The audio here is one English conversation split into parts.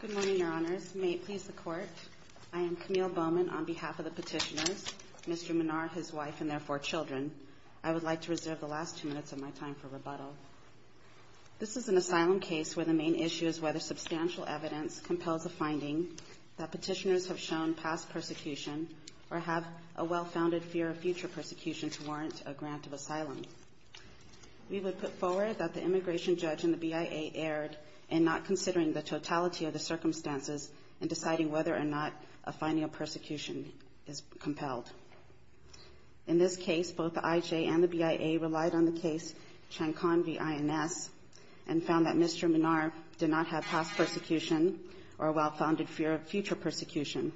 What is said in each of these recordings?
Good morning, Your Honors. May it please the Court, I am Camille Bowman on behalf of the petitioners, Mr. Minar, his wife, and their four children. I would like to reserve the last two minutes of my time for rebuttal. This is an asylum case where the main issue is whether substantial evidence compels a finding that petitioners have shown past persecution or have a well-founded fear of future persecution to warrant a grant of asylum. We would put forward that the immigration judge and the BIA erred in not considering the totality of the circumstances and deciding whether or not a finding of persecution is compelled. In this case, both the IJ and the BIA relied on the case Chacon v. INS and found that Mr. Minar did not have past persecution or a well-founded fear of future persecution.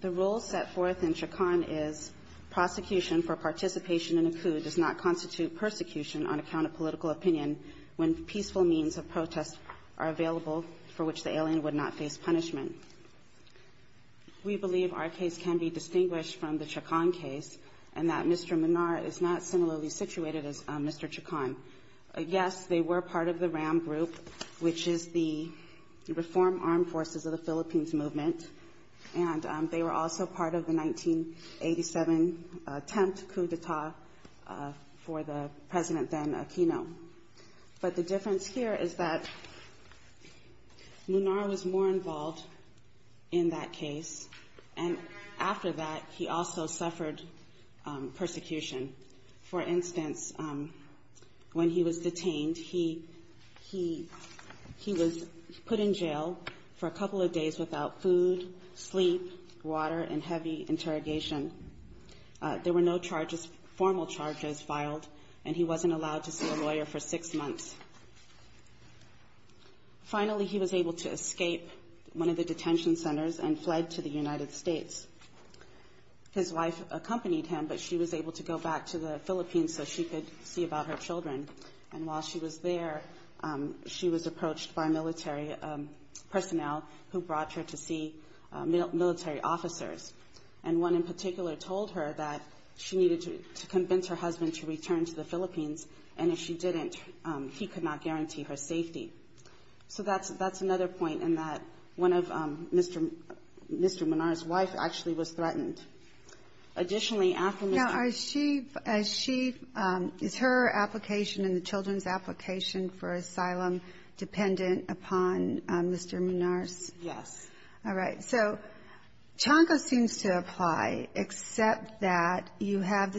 The rule set forth in Chacon is prosecution for participation in a coup does not constitute persecution on account of political opinion when peaceful means of protest are available for which the alien would not face punishment. We believe our case can be distinguished from the Chacon case and that Mr. Minar is not similarly situated as Mr. Chacon. Yes, they were part of the RAM group, which is the Reform Armed Forces of the Philippines Movement, and they were also part of the 1987 attempt coup d'etat for the President then Aquino. But the difference here is that Minar was more involved in that case, and after that, he also suffered persecution. For instance, when he was detained, he was put in jail for a couple of days without food, sleep, water, and heavy interrogation. There were no formal charges filed, and he wasn't allowed to see a lawyer for six months. Finally, he was able to escape one of the detention centers and fled to the United States. His wife accompanied him, but she was able to go back to the Philippines so she could see about her children. And while she was there, she was approached by military personnel who brought her to see military officers, and one in particular told her that she needed to convince her husband to return to the Philippines, and if she didn't, he could not guarantee her safety. So that's another point in that one of Mr. Minar's wife actually was threatened. Additionally, after Mr. Minar's wife was threatened, Now, is her application and the children's application for asylum dependent upon Mr. Minar's? Yes. All right. So Chonko seems to apply, except that you have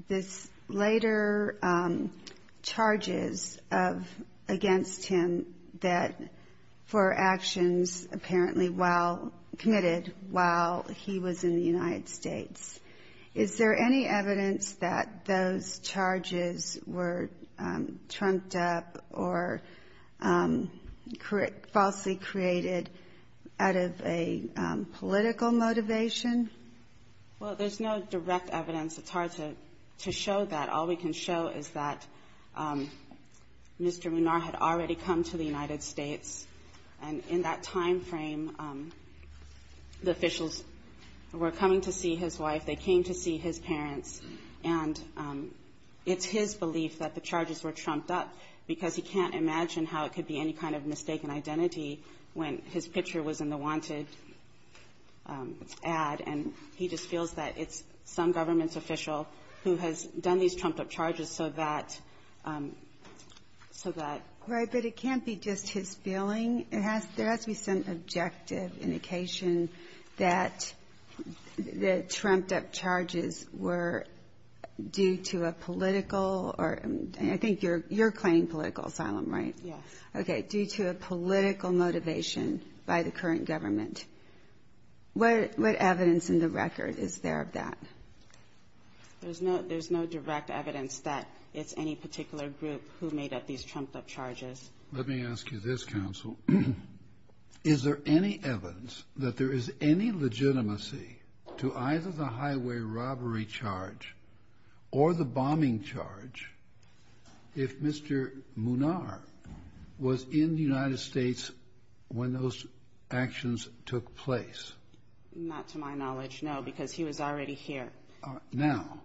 this later charges against him for actions apparently committed while he was in the United States. Is there any evidence that those charges were trumped up or falsely created out of a political motivation? Well, there's no direct evidence. It's hard to show that. All we can show is that Mr. Minar had already come to the United States, and in that time frame, the officials were coming to see his wife, they came to see his parents, and it's his belief that the charges were trumped up because he can't imagine how it could be any kind of mistaken identity when his picture was in the wanted ad, and he just feels that it's some government official who has done these trumped-up charges so that so that Right, but it can't be just his feeling. There has to be some objective indication that the trumped-up charges were due to a political or I think you're claiming political asylum, right? Yes. Okay. Due to a political motivation by the current government. What evidence in the record is there of that? There's no direct evidence that it's any particular group who made up these trumped-up charges. Let me ask you this, counsel. Is there any evidence that there is any legitimacy to either the highway robbery charge or the bombing charge if Mr. Minar was in the United States when those actions took place? Not to my knowledge, no, because he was already here. Now,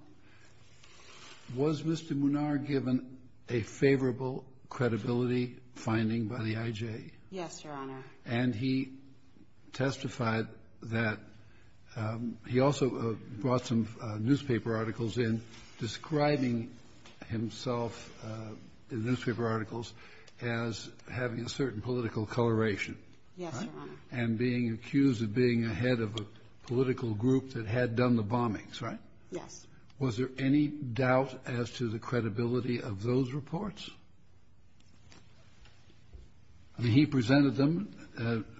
was Mr. Minar given a favorable credibility finding by the IJ? Yes, Your Honor. And he testified that he also brought some newspaper articles in describing himself in the newspaper articles as having a certain political coloration. Yes, Your Honor. And being accused of being a head of a political group that had done the bombings, right? Yes. Was there any doubt as to the credibility of those reports? He presented them.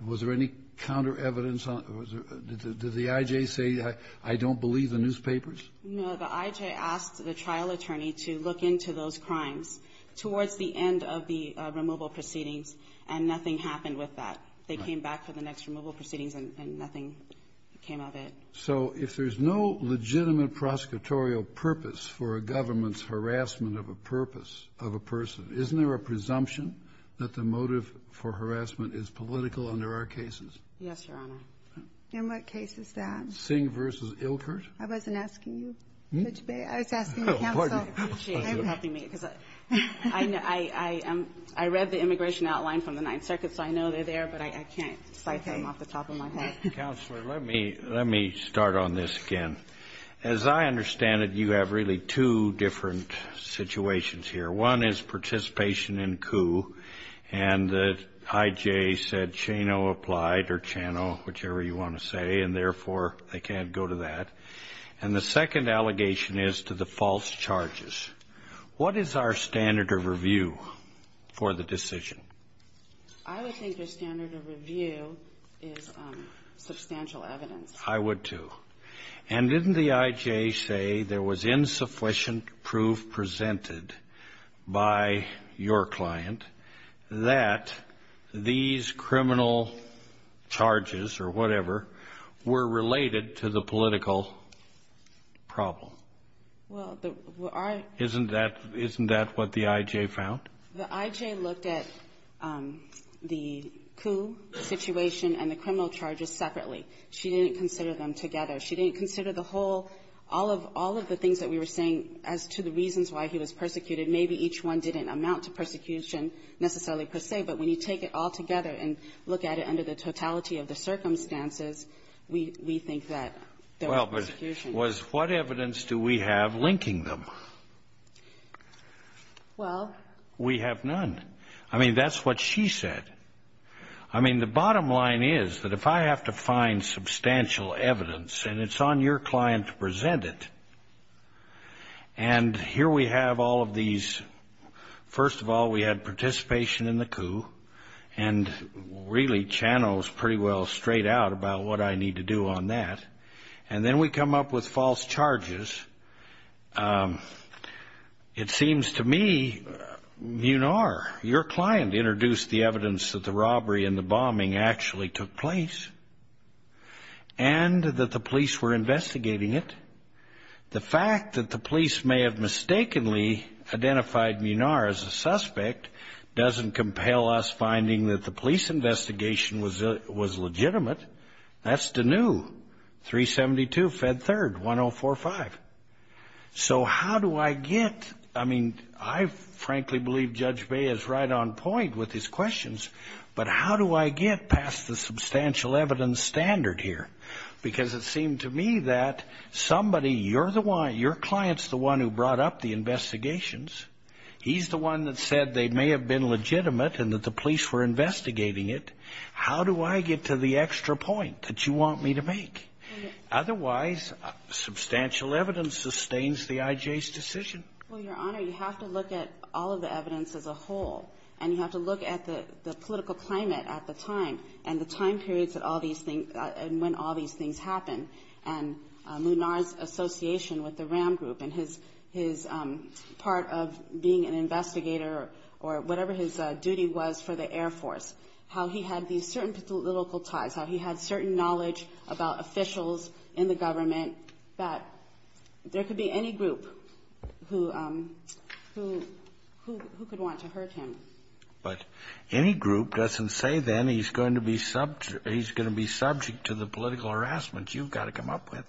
Was there any counter-evidence? Did the IJ say, I don't believe the newspapers? No. The IJ asked the trial attorney to look into those crimes towards the end of the removal proceedings, and nothing happened with that. They came back for the next removal proceedings, and nothing came of it. So if there's no legitimate prosecutorial purpose for a government's harassment of a purpose of a person, isn't there a presumption that the motive for harassment is political under our cases? Yes, Your Honor. In what case is that? Singh v. Ilkert. I wasn't asking you, Judge Baer. I was asking the counsel. Oh, pardon me. I know. I read the immigration outline from the Ninth Circuit, so I know they're there, but I can't cite them off the top of my head. Counselor, let me start on this again. As I understand it, you have really two different situations here. One is participation in coup, and the IJ said Chano applied, or Chano, whichever you want to say, and therefore they can't go to that. And the second allegation is to the false charges. What is our standard of review for the decision? I would think the standard of review is substantial evidence. I would, too. And didn't the IJ say there was insufficient proof presented by your client that these criminal charges or whatever were related to the political problem? Well, I — Isn't that what the IJ found? The IJ looked at the coup situation and the criminal charges separately. She didn't consider them together. She didn't consider the whole — all of the things that we were saying as to the reasons why he was persecuted. Maybe each one didn't amount to persecution necessarily per se, but when you take it all together and look at it under the totality of the circumstances, we think that there was persecution. Well, but what evidence do we have linking them? Well, we have none. I mean, that's what she said. I mean, the bottom line is that if I have to find substantial evidence, and it's on your client to present it, and here we have all of these. First of all, we had participation in the coup and really channels pretty well straight out about what I need to do on that. And then we come up with false charges. It seems to me, Munar, your client, introduced the evidence that the robbery and the bombing actually took place and that the police were investigating it. The fact that the police may have mistakenly identified Munar as a suspect doesn't compel us finding that the police investigation was legitimate. That's Deneu, 372 Fed 3rd, 1045. So how do I get, I mean, I frankly believe Judge Bay is right on point with his questions, but how do I get past the substantial evidence standard here? Because it seemed to me that somebody, your client is the one who brought up the investigations. He's the one that said they may have been legitimate and that the police were investigating it. How do I get to the extra point that you want me to make? Otherwise, substantial evidence sustains the I.J.'s decision. Well, Your Honor, you have to look at all of the evidence as a whole, and you have to look at the political climate at the time and the time periods that all these things, and when all these things happened. And Munar's association with the RAM group and his part of being an investigator or whatever his duty was for the Air Force, how he had these certain political ties, how he had certain knowledge about officials in the government, that there could be any group who could want to hurt him. But any group doesn't say then he's going to be subject to the political harassment you've got to come up with.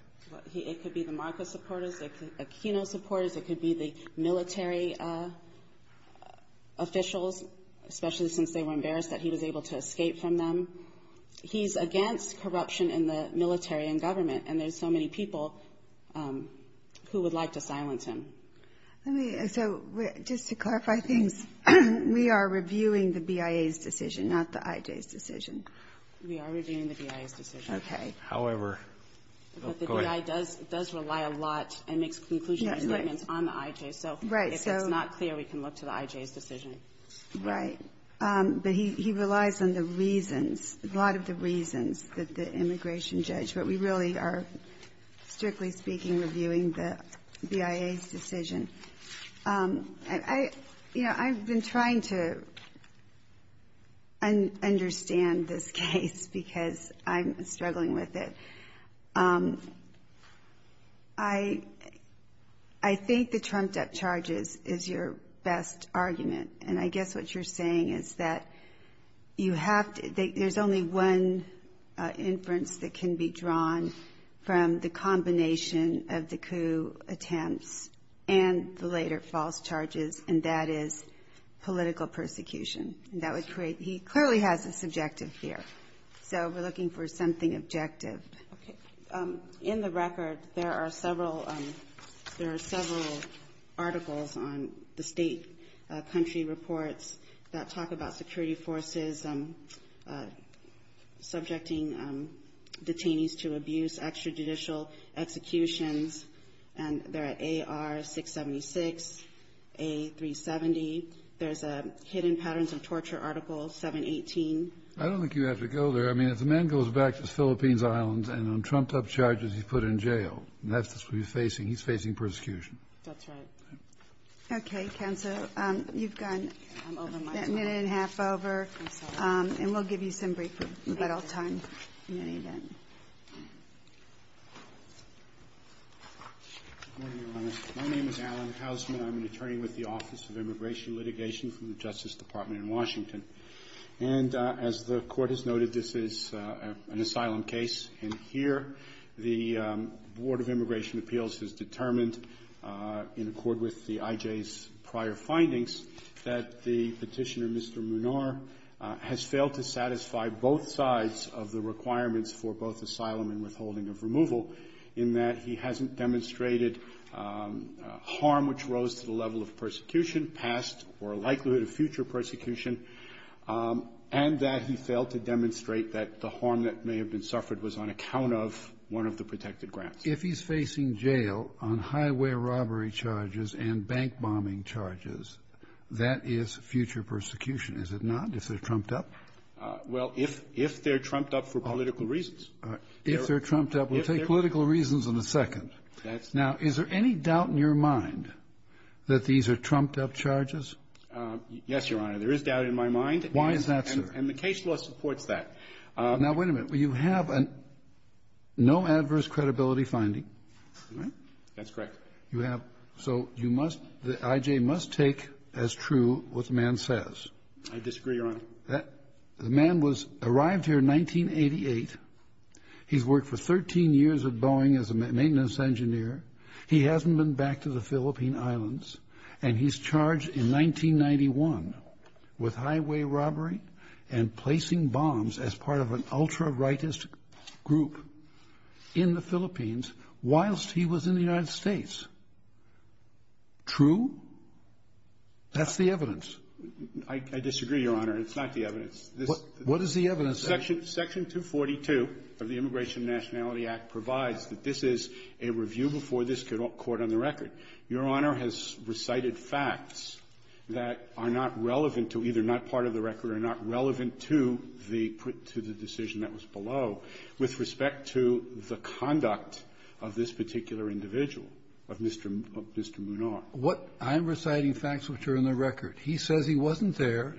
It could be the MARCA supporters, the Aquino supporters. It could be the military officials, especially since they were embarrassed that he was able to escape from them. He's against corruption in the military and government, and there's so many people who would like to silence him. So just to clarify things, we are reviewing the BIA's decision, not the I.J.'s decision. We are reviewing the BIA's decision. Okay. However, go ahead. The BIA does rely a lot and makes conclusion statements on the I.J. So if it's not clear, we can look to the I.J.'s decision. Right. But he relies on the reasons, a lot of the reasons that the immigration judge. But we really are, strictly speaking, reviewing the BIA's decision. I've been trying to understand this case because I'm struggling with it. I think the trumped-up charges is your best argument, and I guess what you're saying is that you have to – there's only one inference that can be drawn from the combination of the coup attempts and the later false charges, and that is political persecution. And that would create – he clearly has a subjective fear. So we're looking for something objective. Okay. In the record, there are several – there are several articles on the state country reports that talk about security forces subjecting detainees to abuse, extrajudicial executions, and they're at AR-676, A-370. There's a hidden patterns of torture article, 718. I don't think you have to go there. I mean, if the man goes back to the Philippines Islands and on trumped-up charges he's put in jail, that's what he's facing. He's facing persecution. That's right. Okay. Counsel, you've gone a minute and a half over. I'm sorry. And we'll give you some break. But I'll turn to you then. Good morning, Your Honor. My name is Alan Hausman. I'm an attorney with the Office of Immigration Litigation from the Justice Department in Washington. And as the Court has noted, this is an asylum case. And here the Board of Immigration Appeals has determined, in accord with the IJ's prior findings, that the Petitioner, Mr. Munar, has failed to satisfy both sides of the requirements for both asylum and withholding of removal in that he hasn't demonstrated harm which rose to the level of persecution, past or likelihood of future persecution, and that he failed to demonstrate that the harm that may have been suffered was on account of one of the protected grants. But if he's facing jail on highway robbery charges and bank bombing charges, that is future persecution, is it not, if they're trumped up? Well, if they're trumped up for political reasons. All right. If they're trumped up. We'll take political reasons in a second. Now, is there any doubt in your mind that these are trumped-up charges? Yes, Your Honor. There is doubt in my mind. Why is that, sir? And the case law supports that. Now, wait a minute. You have a no adverse credibility finding, right? That's correct. You have. So you must, the IJ must take as true what the man says. I disagree, Your Honor. The man was, arrived here in 1988. He's worked for 13 years at Boeing as a maintenance engineer. He hasn't been back to the Philippine Islands. And he's charged in 1991 with highway robbery and placing bombs as part of an ultra-rightist group in the Philippines whilst he was in the United States. True? That's the evidence. I disagree, Your Honor. It's not the evidence. What is the evidence? Section 242 of the Immigration and Nationality Act provides that this is a review before this court on the record. Your Honor has recited facts that are not relevant to, either not part of the record or not relevant to the decision that was below with respect to the conduct of this particular individual, of Mr. Munar. What I'm reciting facts which are in the record. He says he wasn't there.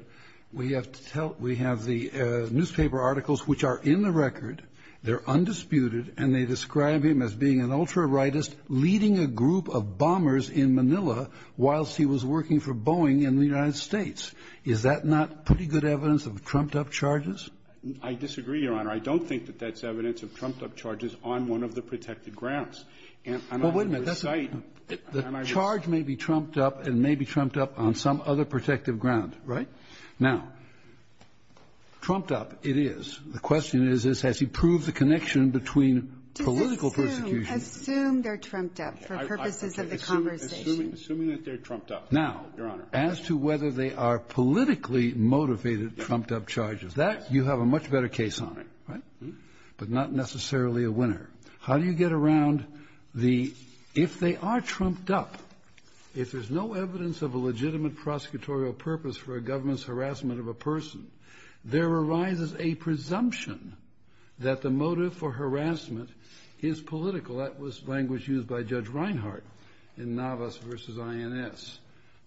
We have to tell, we have the newspaper articles which are in the record. They're undisputed. And they describe him as being an ultra-rightist leading a group of bombers in Manila whilst he was working for Boeing in the United States. Is that not pretty good evidence of trumped-up charges? I disagree, Your Honor. I don't think that that's evidence of trumped-up charges on one of the protected And I'm not going to recite. Well, wait a minute. The charge may be trumped-up and may be trumped-up on some other protective ground, right? Now, trumped-up it is. The question is, has he proved the connection between political persecution Assume they're trumped-up for purposes of the conversation. Assuming that they're trumped-up, Your Honor. Now, as to whether they are politically motivated trumped-up charges, that you have a much better case on it, right? But not necessarily a winner. How do you get around the, if they are trumped-up, if there's no evidence of a legitimate prosecutorial purpose for a government's harassment of a person, there arises a presumption that the motive for harassment is political. That was language used by Judge Reinhart in Navas v. INS,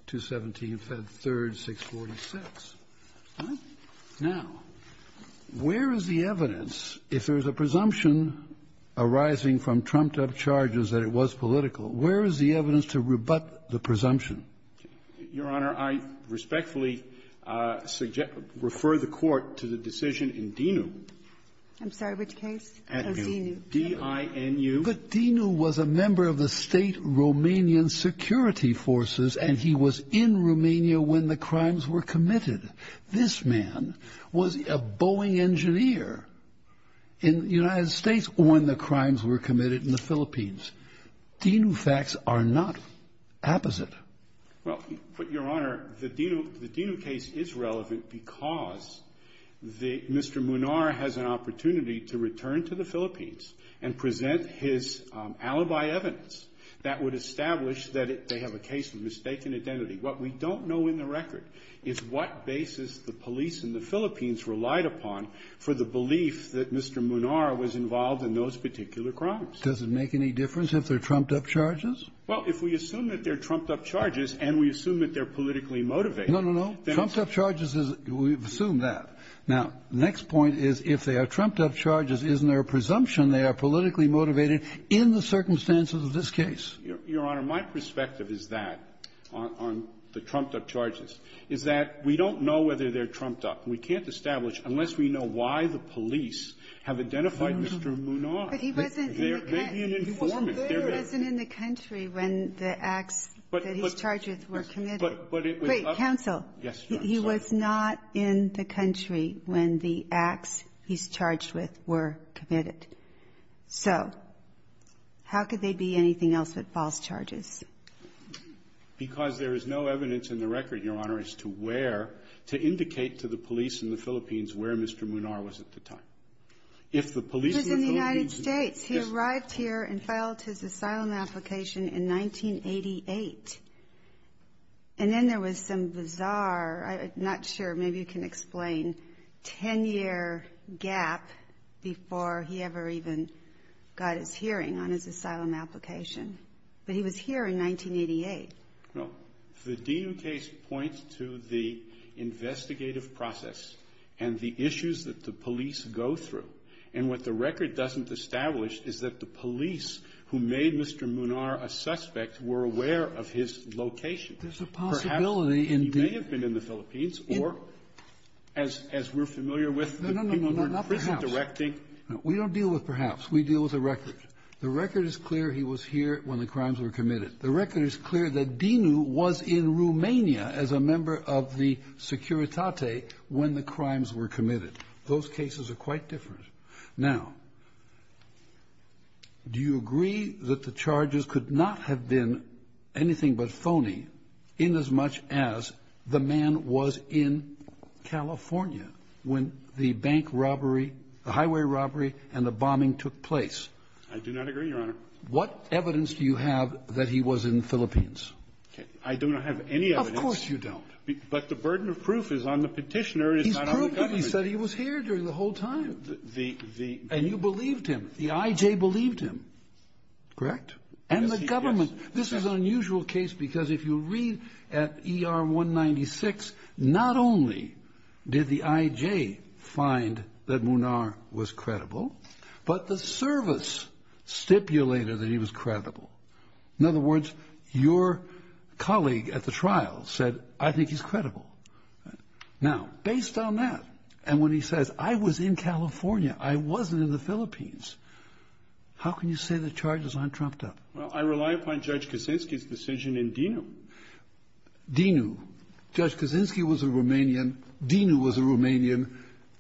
217, Fed 3rd, 646. Now, where is the evidence, if there's a presumption arising from trumped-up charges that it was political, where is the evidence to rebut the presumption? Your Honor, I respectfully suggest, refer the Court to the decision in DINU. I'm sorry, which case? DINU. D-I-N-U. But DINU was a member of the State Romanian Security Forces, and he was in Romania when the crimes were committed. This man was a Boeing engineer in the United States when the crimes were committed in the Philippines. DINU facts are not opposite. Well, Your Honor, the DINU case is relevant because Mr. Munar has an opportunity to return to the Philippines and present his alibi evidence that would establish that they have a case of mistaken identity. What we don't know in the record is what basis the police in the Philippines relied upon for the belief that Mr. Munar was involved in those particular crimes. Does it make any difference if they're trumped-up charges? Well, if we assume that they're trumped-up charges and we assume that they're politically motivated, then it's — No, no, no. Trumped-up charges is — we've assumed that. Now, the next point is, if they are trumped-up charges, isn't there a presumption they are politically motivated in the circumstances of this case? Your Honor, my perspective is that, on the trumped-up charges, is that we don't know whether they're trumped-up. We can't establish unless we know why the police have identified Mr. Munar. But he wasn't in the country when the acts that he's charged with were committed. Wait. Counsel. Yes, Your Honor. He was not in the country when the acts he's charged with were committed. So how could they be anything else but false charges? Because there is no evidence in the record, Your Honor, as to where to indicate to the police in the Philippines where Mr. Munar was at the time. If the police in the Philippines — He was in the United States. He arrived here and filed his asylum application in 1988. And then there was some bizarre, I'm not sure, maybe you can explain, 10-year gap before he ever even got his hearing on his asylum application. But he was here in 1988. No. The Dino case points to the investigative process and the issues that the police go through. And what the record doesn't establish is that the police who made Mr. Munar a suspect were aware of his location. There's a possibility in the — Perhaps he may have been in the Philippines or, as we're familiar with — No, no, no. Not perhaps. We don't deal with perhaps. We deal with the record. The record is clear he was here when the crimes were committed. The record is clear that Dino was in Romania as a member of the Securitate when the crimes were committed. Those cases are quite different. Now, do you agree that the charges could not have been anything but phony inasmuch as the man was in California when the bank robbery, the highway robbery, and the bombing took place? I do not agree, Your Honor. What evidence do you have that he was in the Philippines? I do not have any evidence. Of course you don't. He said he was here during the whole time. And you believed him. The I.J. believed him. Correct? And the government. This is an unusual case because if you read at ER 196, not only did the I.J. find that Munar was credible, but the service stipulated that he was credible. In other words, your colleague at the trial said, I think he's credible. Now, based on that, and when he says, I was in California, I wasn't in the Philippines, how can you say the charges aren't trumped up? Well, I rely upon Judge Kaczynski's decision in Dinu. Dinu. Judge Kaczynski was a Romanian. Dinu was a Romanian.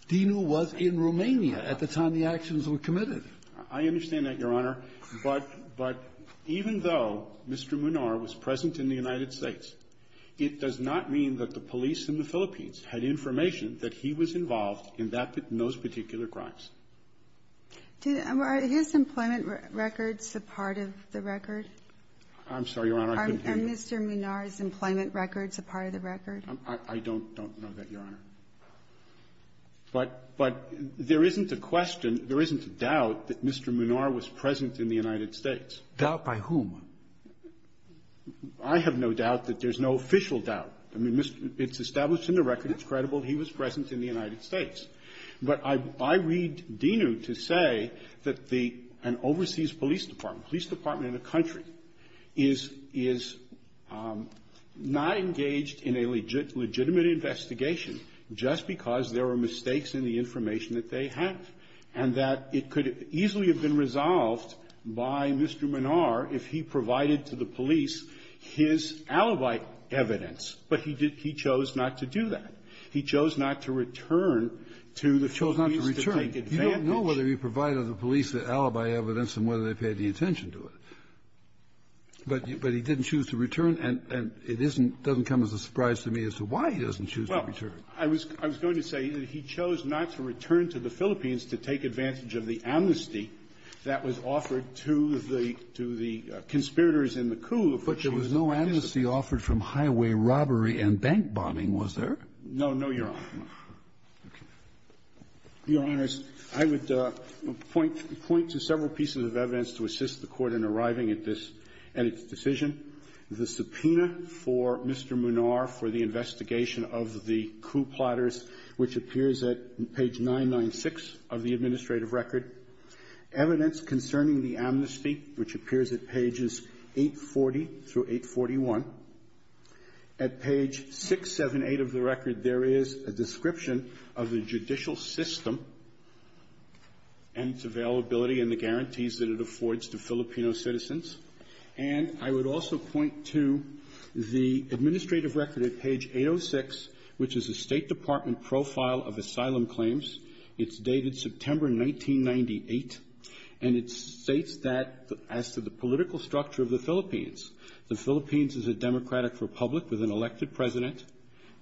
Dinu was in Romania at the time the actions were committed. I understand that, Your Honor. But even though Mr. Munar was present in the United States, it does not mean that the police in the Philippines had information that he was involved in those particular crimes. Are his employment records a part of the record? I'm sorry, Your Honor. Are Mr. Munar's employment records a part of the record? I don't know that, Your Honor. But there isn't a question, there isn't a doubt that Mr. Munar was present in the United States. Doubt by whom? I have no doubt that there's no official doubt. I mean, it's established in the record it's credible he was present in the United States. But I read Dinu to say that an overseas police department, a police department in a country, is not engaged in a legitimate investigation just because there are mistakes in the information that they have, and that it could easily have been resolved by Mr. Munar if he provided to the police his alibi evidence, but he chose not to do that. He chose not to return to the Philippines to take advantage. He chose not to return. You don't know whether he provided the police the alibi evidence and whether they paid the attention to it. But he didn't choose to return, and it isn't doesn't come as a surprise to me as to why he doesn't choose to return. Well, I was going to say that he chose not to return to the Philippines to take advantage of the amnesty that was offered to the conspirators in the coup. But there was no amnesty offered from highway robbery and bank bombing, was there? No, no, Your Honor. Okay. Your Honors, I would point to several pieces of evidence to assist the Court in arriving at this, at its decision. The subpoena for Mr. Munar for the investigation of the coup plotters, which appears at page 996 of the administrative record. Evidence concerning the amnesty, which appears at pages 840 through 841. At page 678 of the record, there is a description of the judicial system and its availability and the guarantees that it affords to Filipino citizens. And I would also point to the administrative record at page 806, which is the State Department profile of asylum claims. It's dated September 1998. And it states that as to the political structure of the Philippines. The Philippines is a democratic republic with an elected president,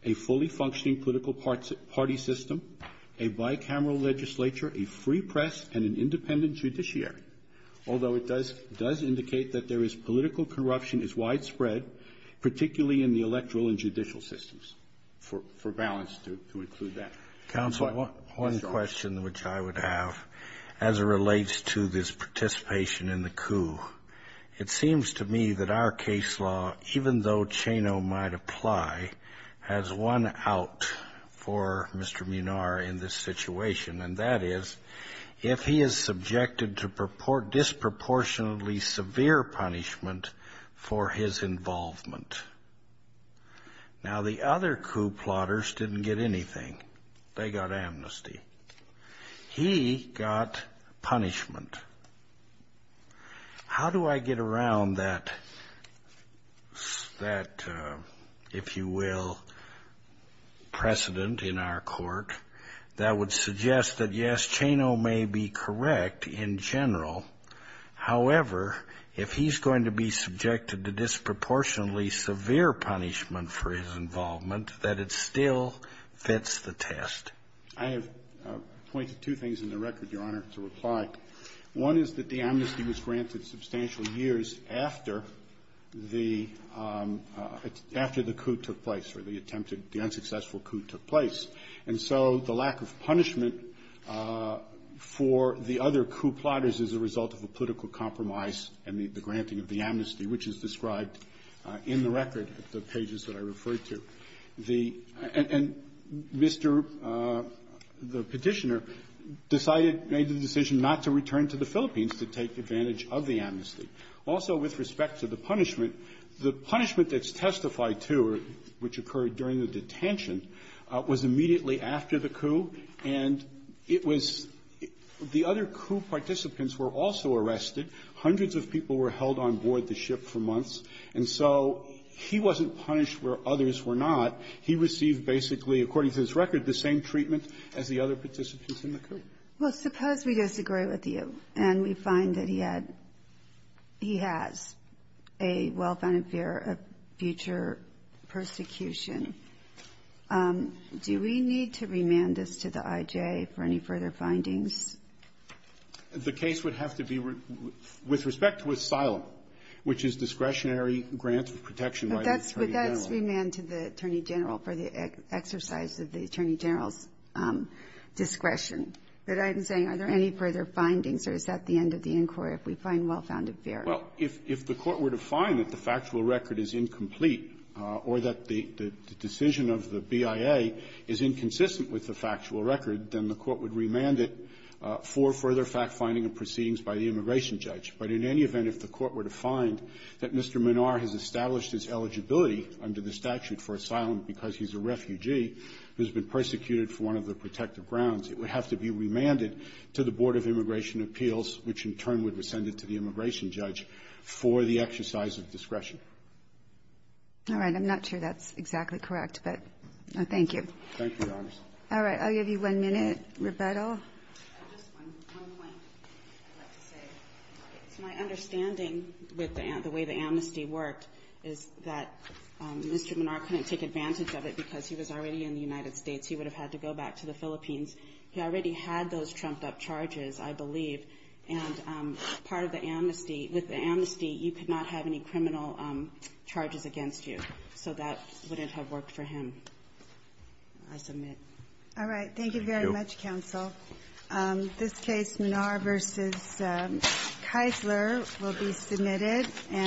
a fully functioning political party system, a bicameral legislature, a free press, and an independent judiciary. Although it does indicate that there is political corruption is widespread, particularly in the electoral and judicial systems, for balance to include that. Counsel, one question which I would have as it relates to this participation in the coup. It seems to me that our case law, even though Chano might apply, has one out for Mr. Munar in this situation. And that is if he is subjected to disproportionally severe punishment for his involvement. Now, the other coup plotters didn't get anything. They got amnesty. He got punishment. How do I get around that, if you will, precedent in our court that would suggest that, yes, Chano may be correct in general. However, if he's going to be subjected to disproportionately severe punishment for his involvement, that it still fits the test. I have pointed two things in the record, Your Honor, to reply. One is that the amnesty was granted substantial years after the coup took place, or the attempted, the unsuccessful coup took place. And so the lack of punishment for the other coup plotters is a result of a political compromise and the granting of the amnesty, which is described in the record, the pages that I referred to. And Mr. the Petitioner decided, made the decision not to return to the Philippines to take advantage of the amnesty. Also, with respect to the punishment, the punishment that's testified to, which occurred during the detention, was immediately after the coup. And it was the other coup participants were also arrested. And so he wasn't punished where others were not. He received, basically, according to this record, the same treatment as the other participants in the coup. Well, suppose we disagree with you, and we find that he had, he has a well-founded fear of future persecution. Do we need to remand this to the I.J. for any further findings? The case would have to be, with respect to asylum, which is discretionary grant of protection by the Attorney General. But that's remanded to the Attorney General for the exercise of the Attorney General's discretion. But I'm saying, are there any further findings, or is that the end of the inquiry if we find well-founded fear? Well, if the Court were to find that the factual record is incomplete or that the decision of the BIA is inconsistent with the factual record, then the Court would be remanded for further fact-finding and proceedings by the immigration judge. But in any event, if the Court were to find that Mr. Manar has established his eligibility under the statute for asylum because he's a refugee who's been persecuted for one of the protective grounds, it would have to be remanded to the Board of Immigration Appeals, which in turn would rescind it to the immigration judge for the exercise of discretion. All right. I'm not sure that's exactly correct, but thank you. Thank you, Your Honors. All right. I'll give you one minute. Roberta. Just one point I'd like to say. My understanding with the way the amnesty worked is that Mr. Manar couldn't take advantage of it because he was already in the United States. He would have had to go back to the Philippines. He already had those trumped-up charges, I believe. And part of the amnesty, with the amnesty, you could not have any criminal charges against you. So that wouldn't have worked for him, I submit. All right. Thank you very much, counsel. Thank you. This case, Manar v. Keisler, will be submitted.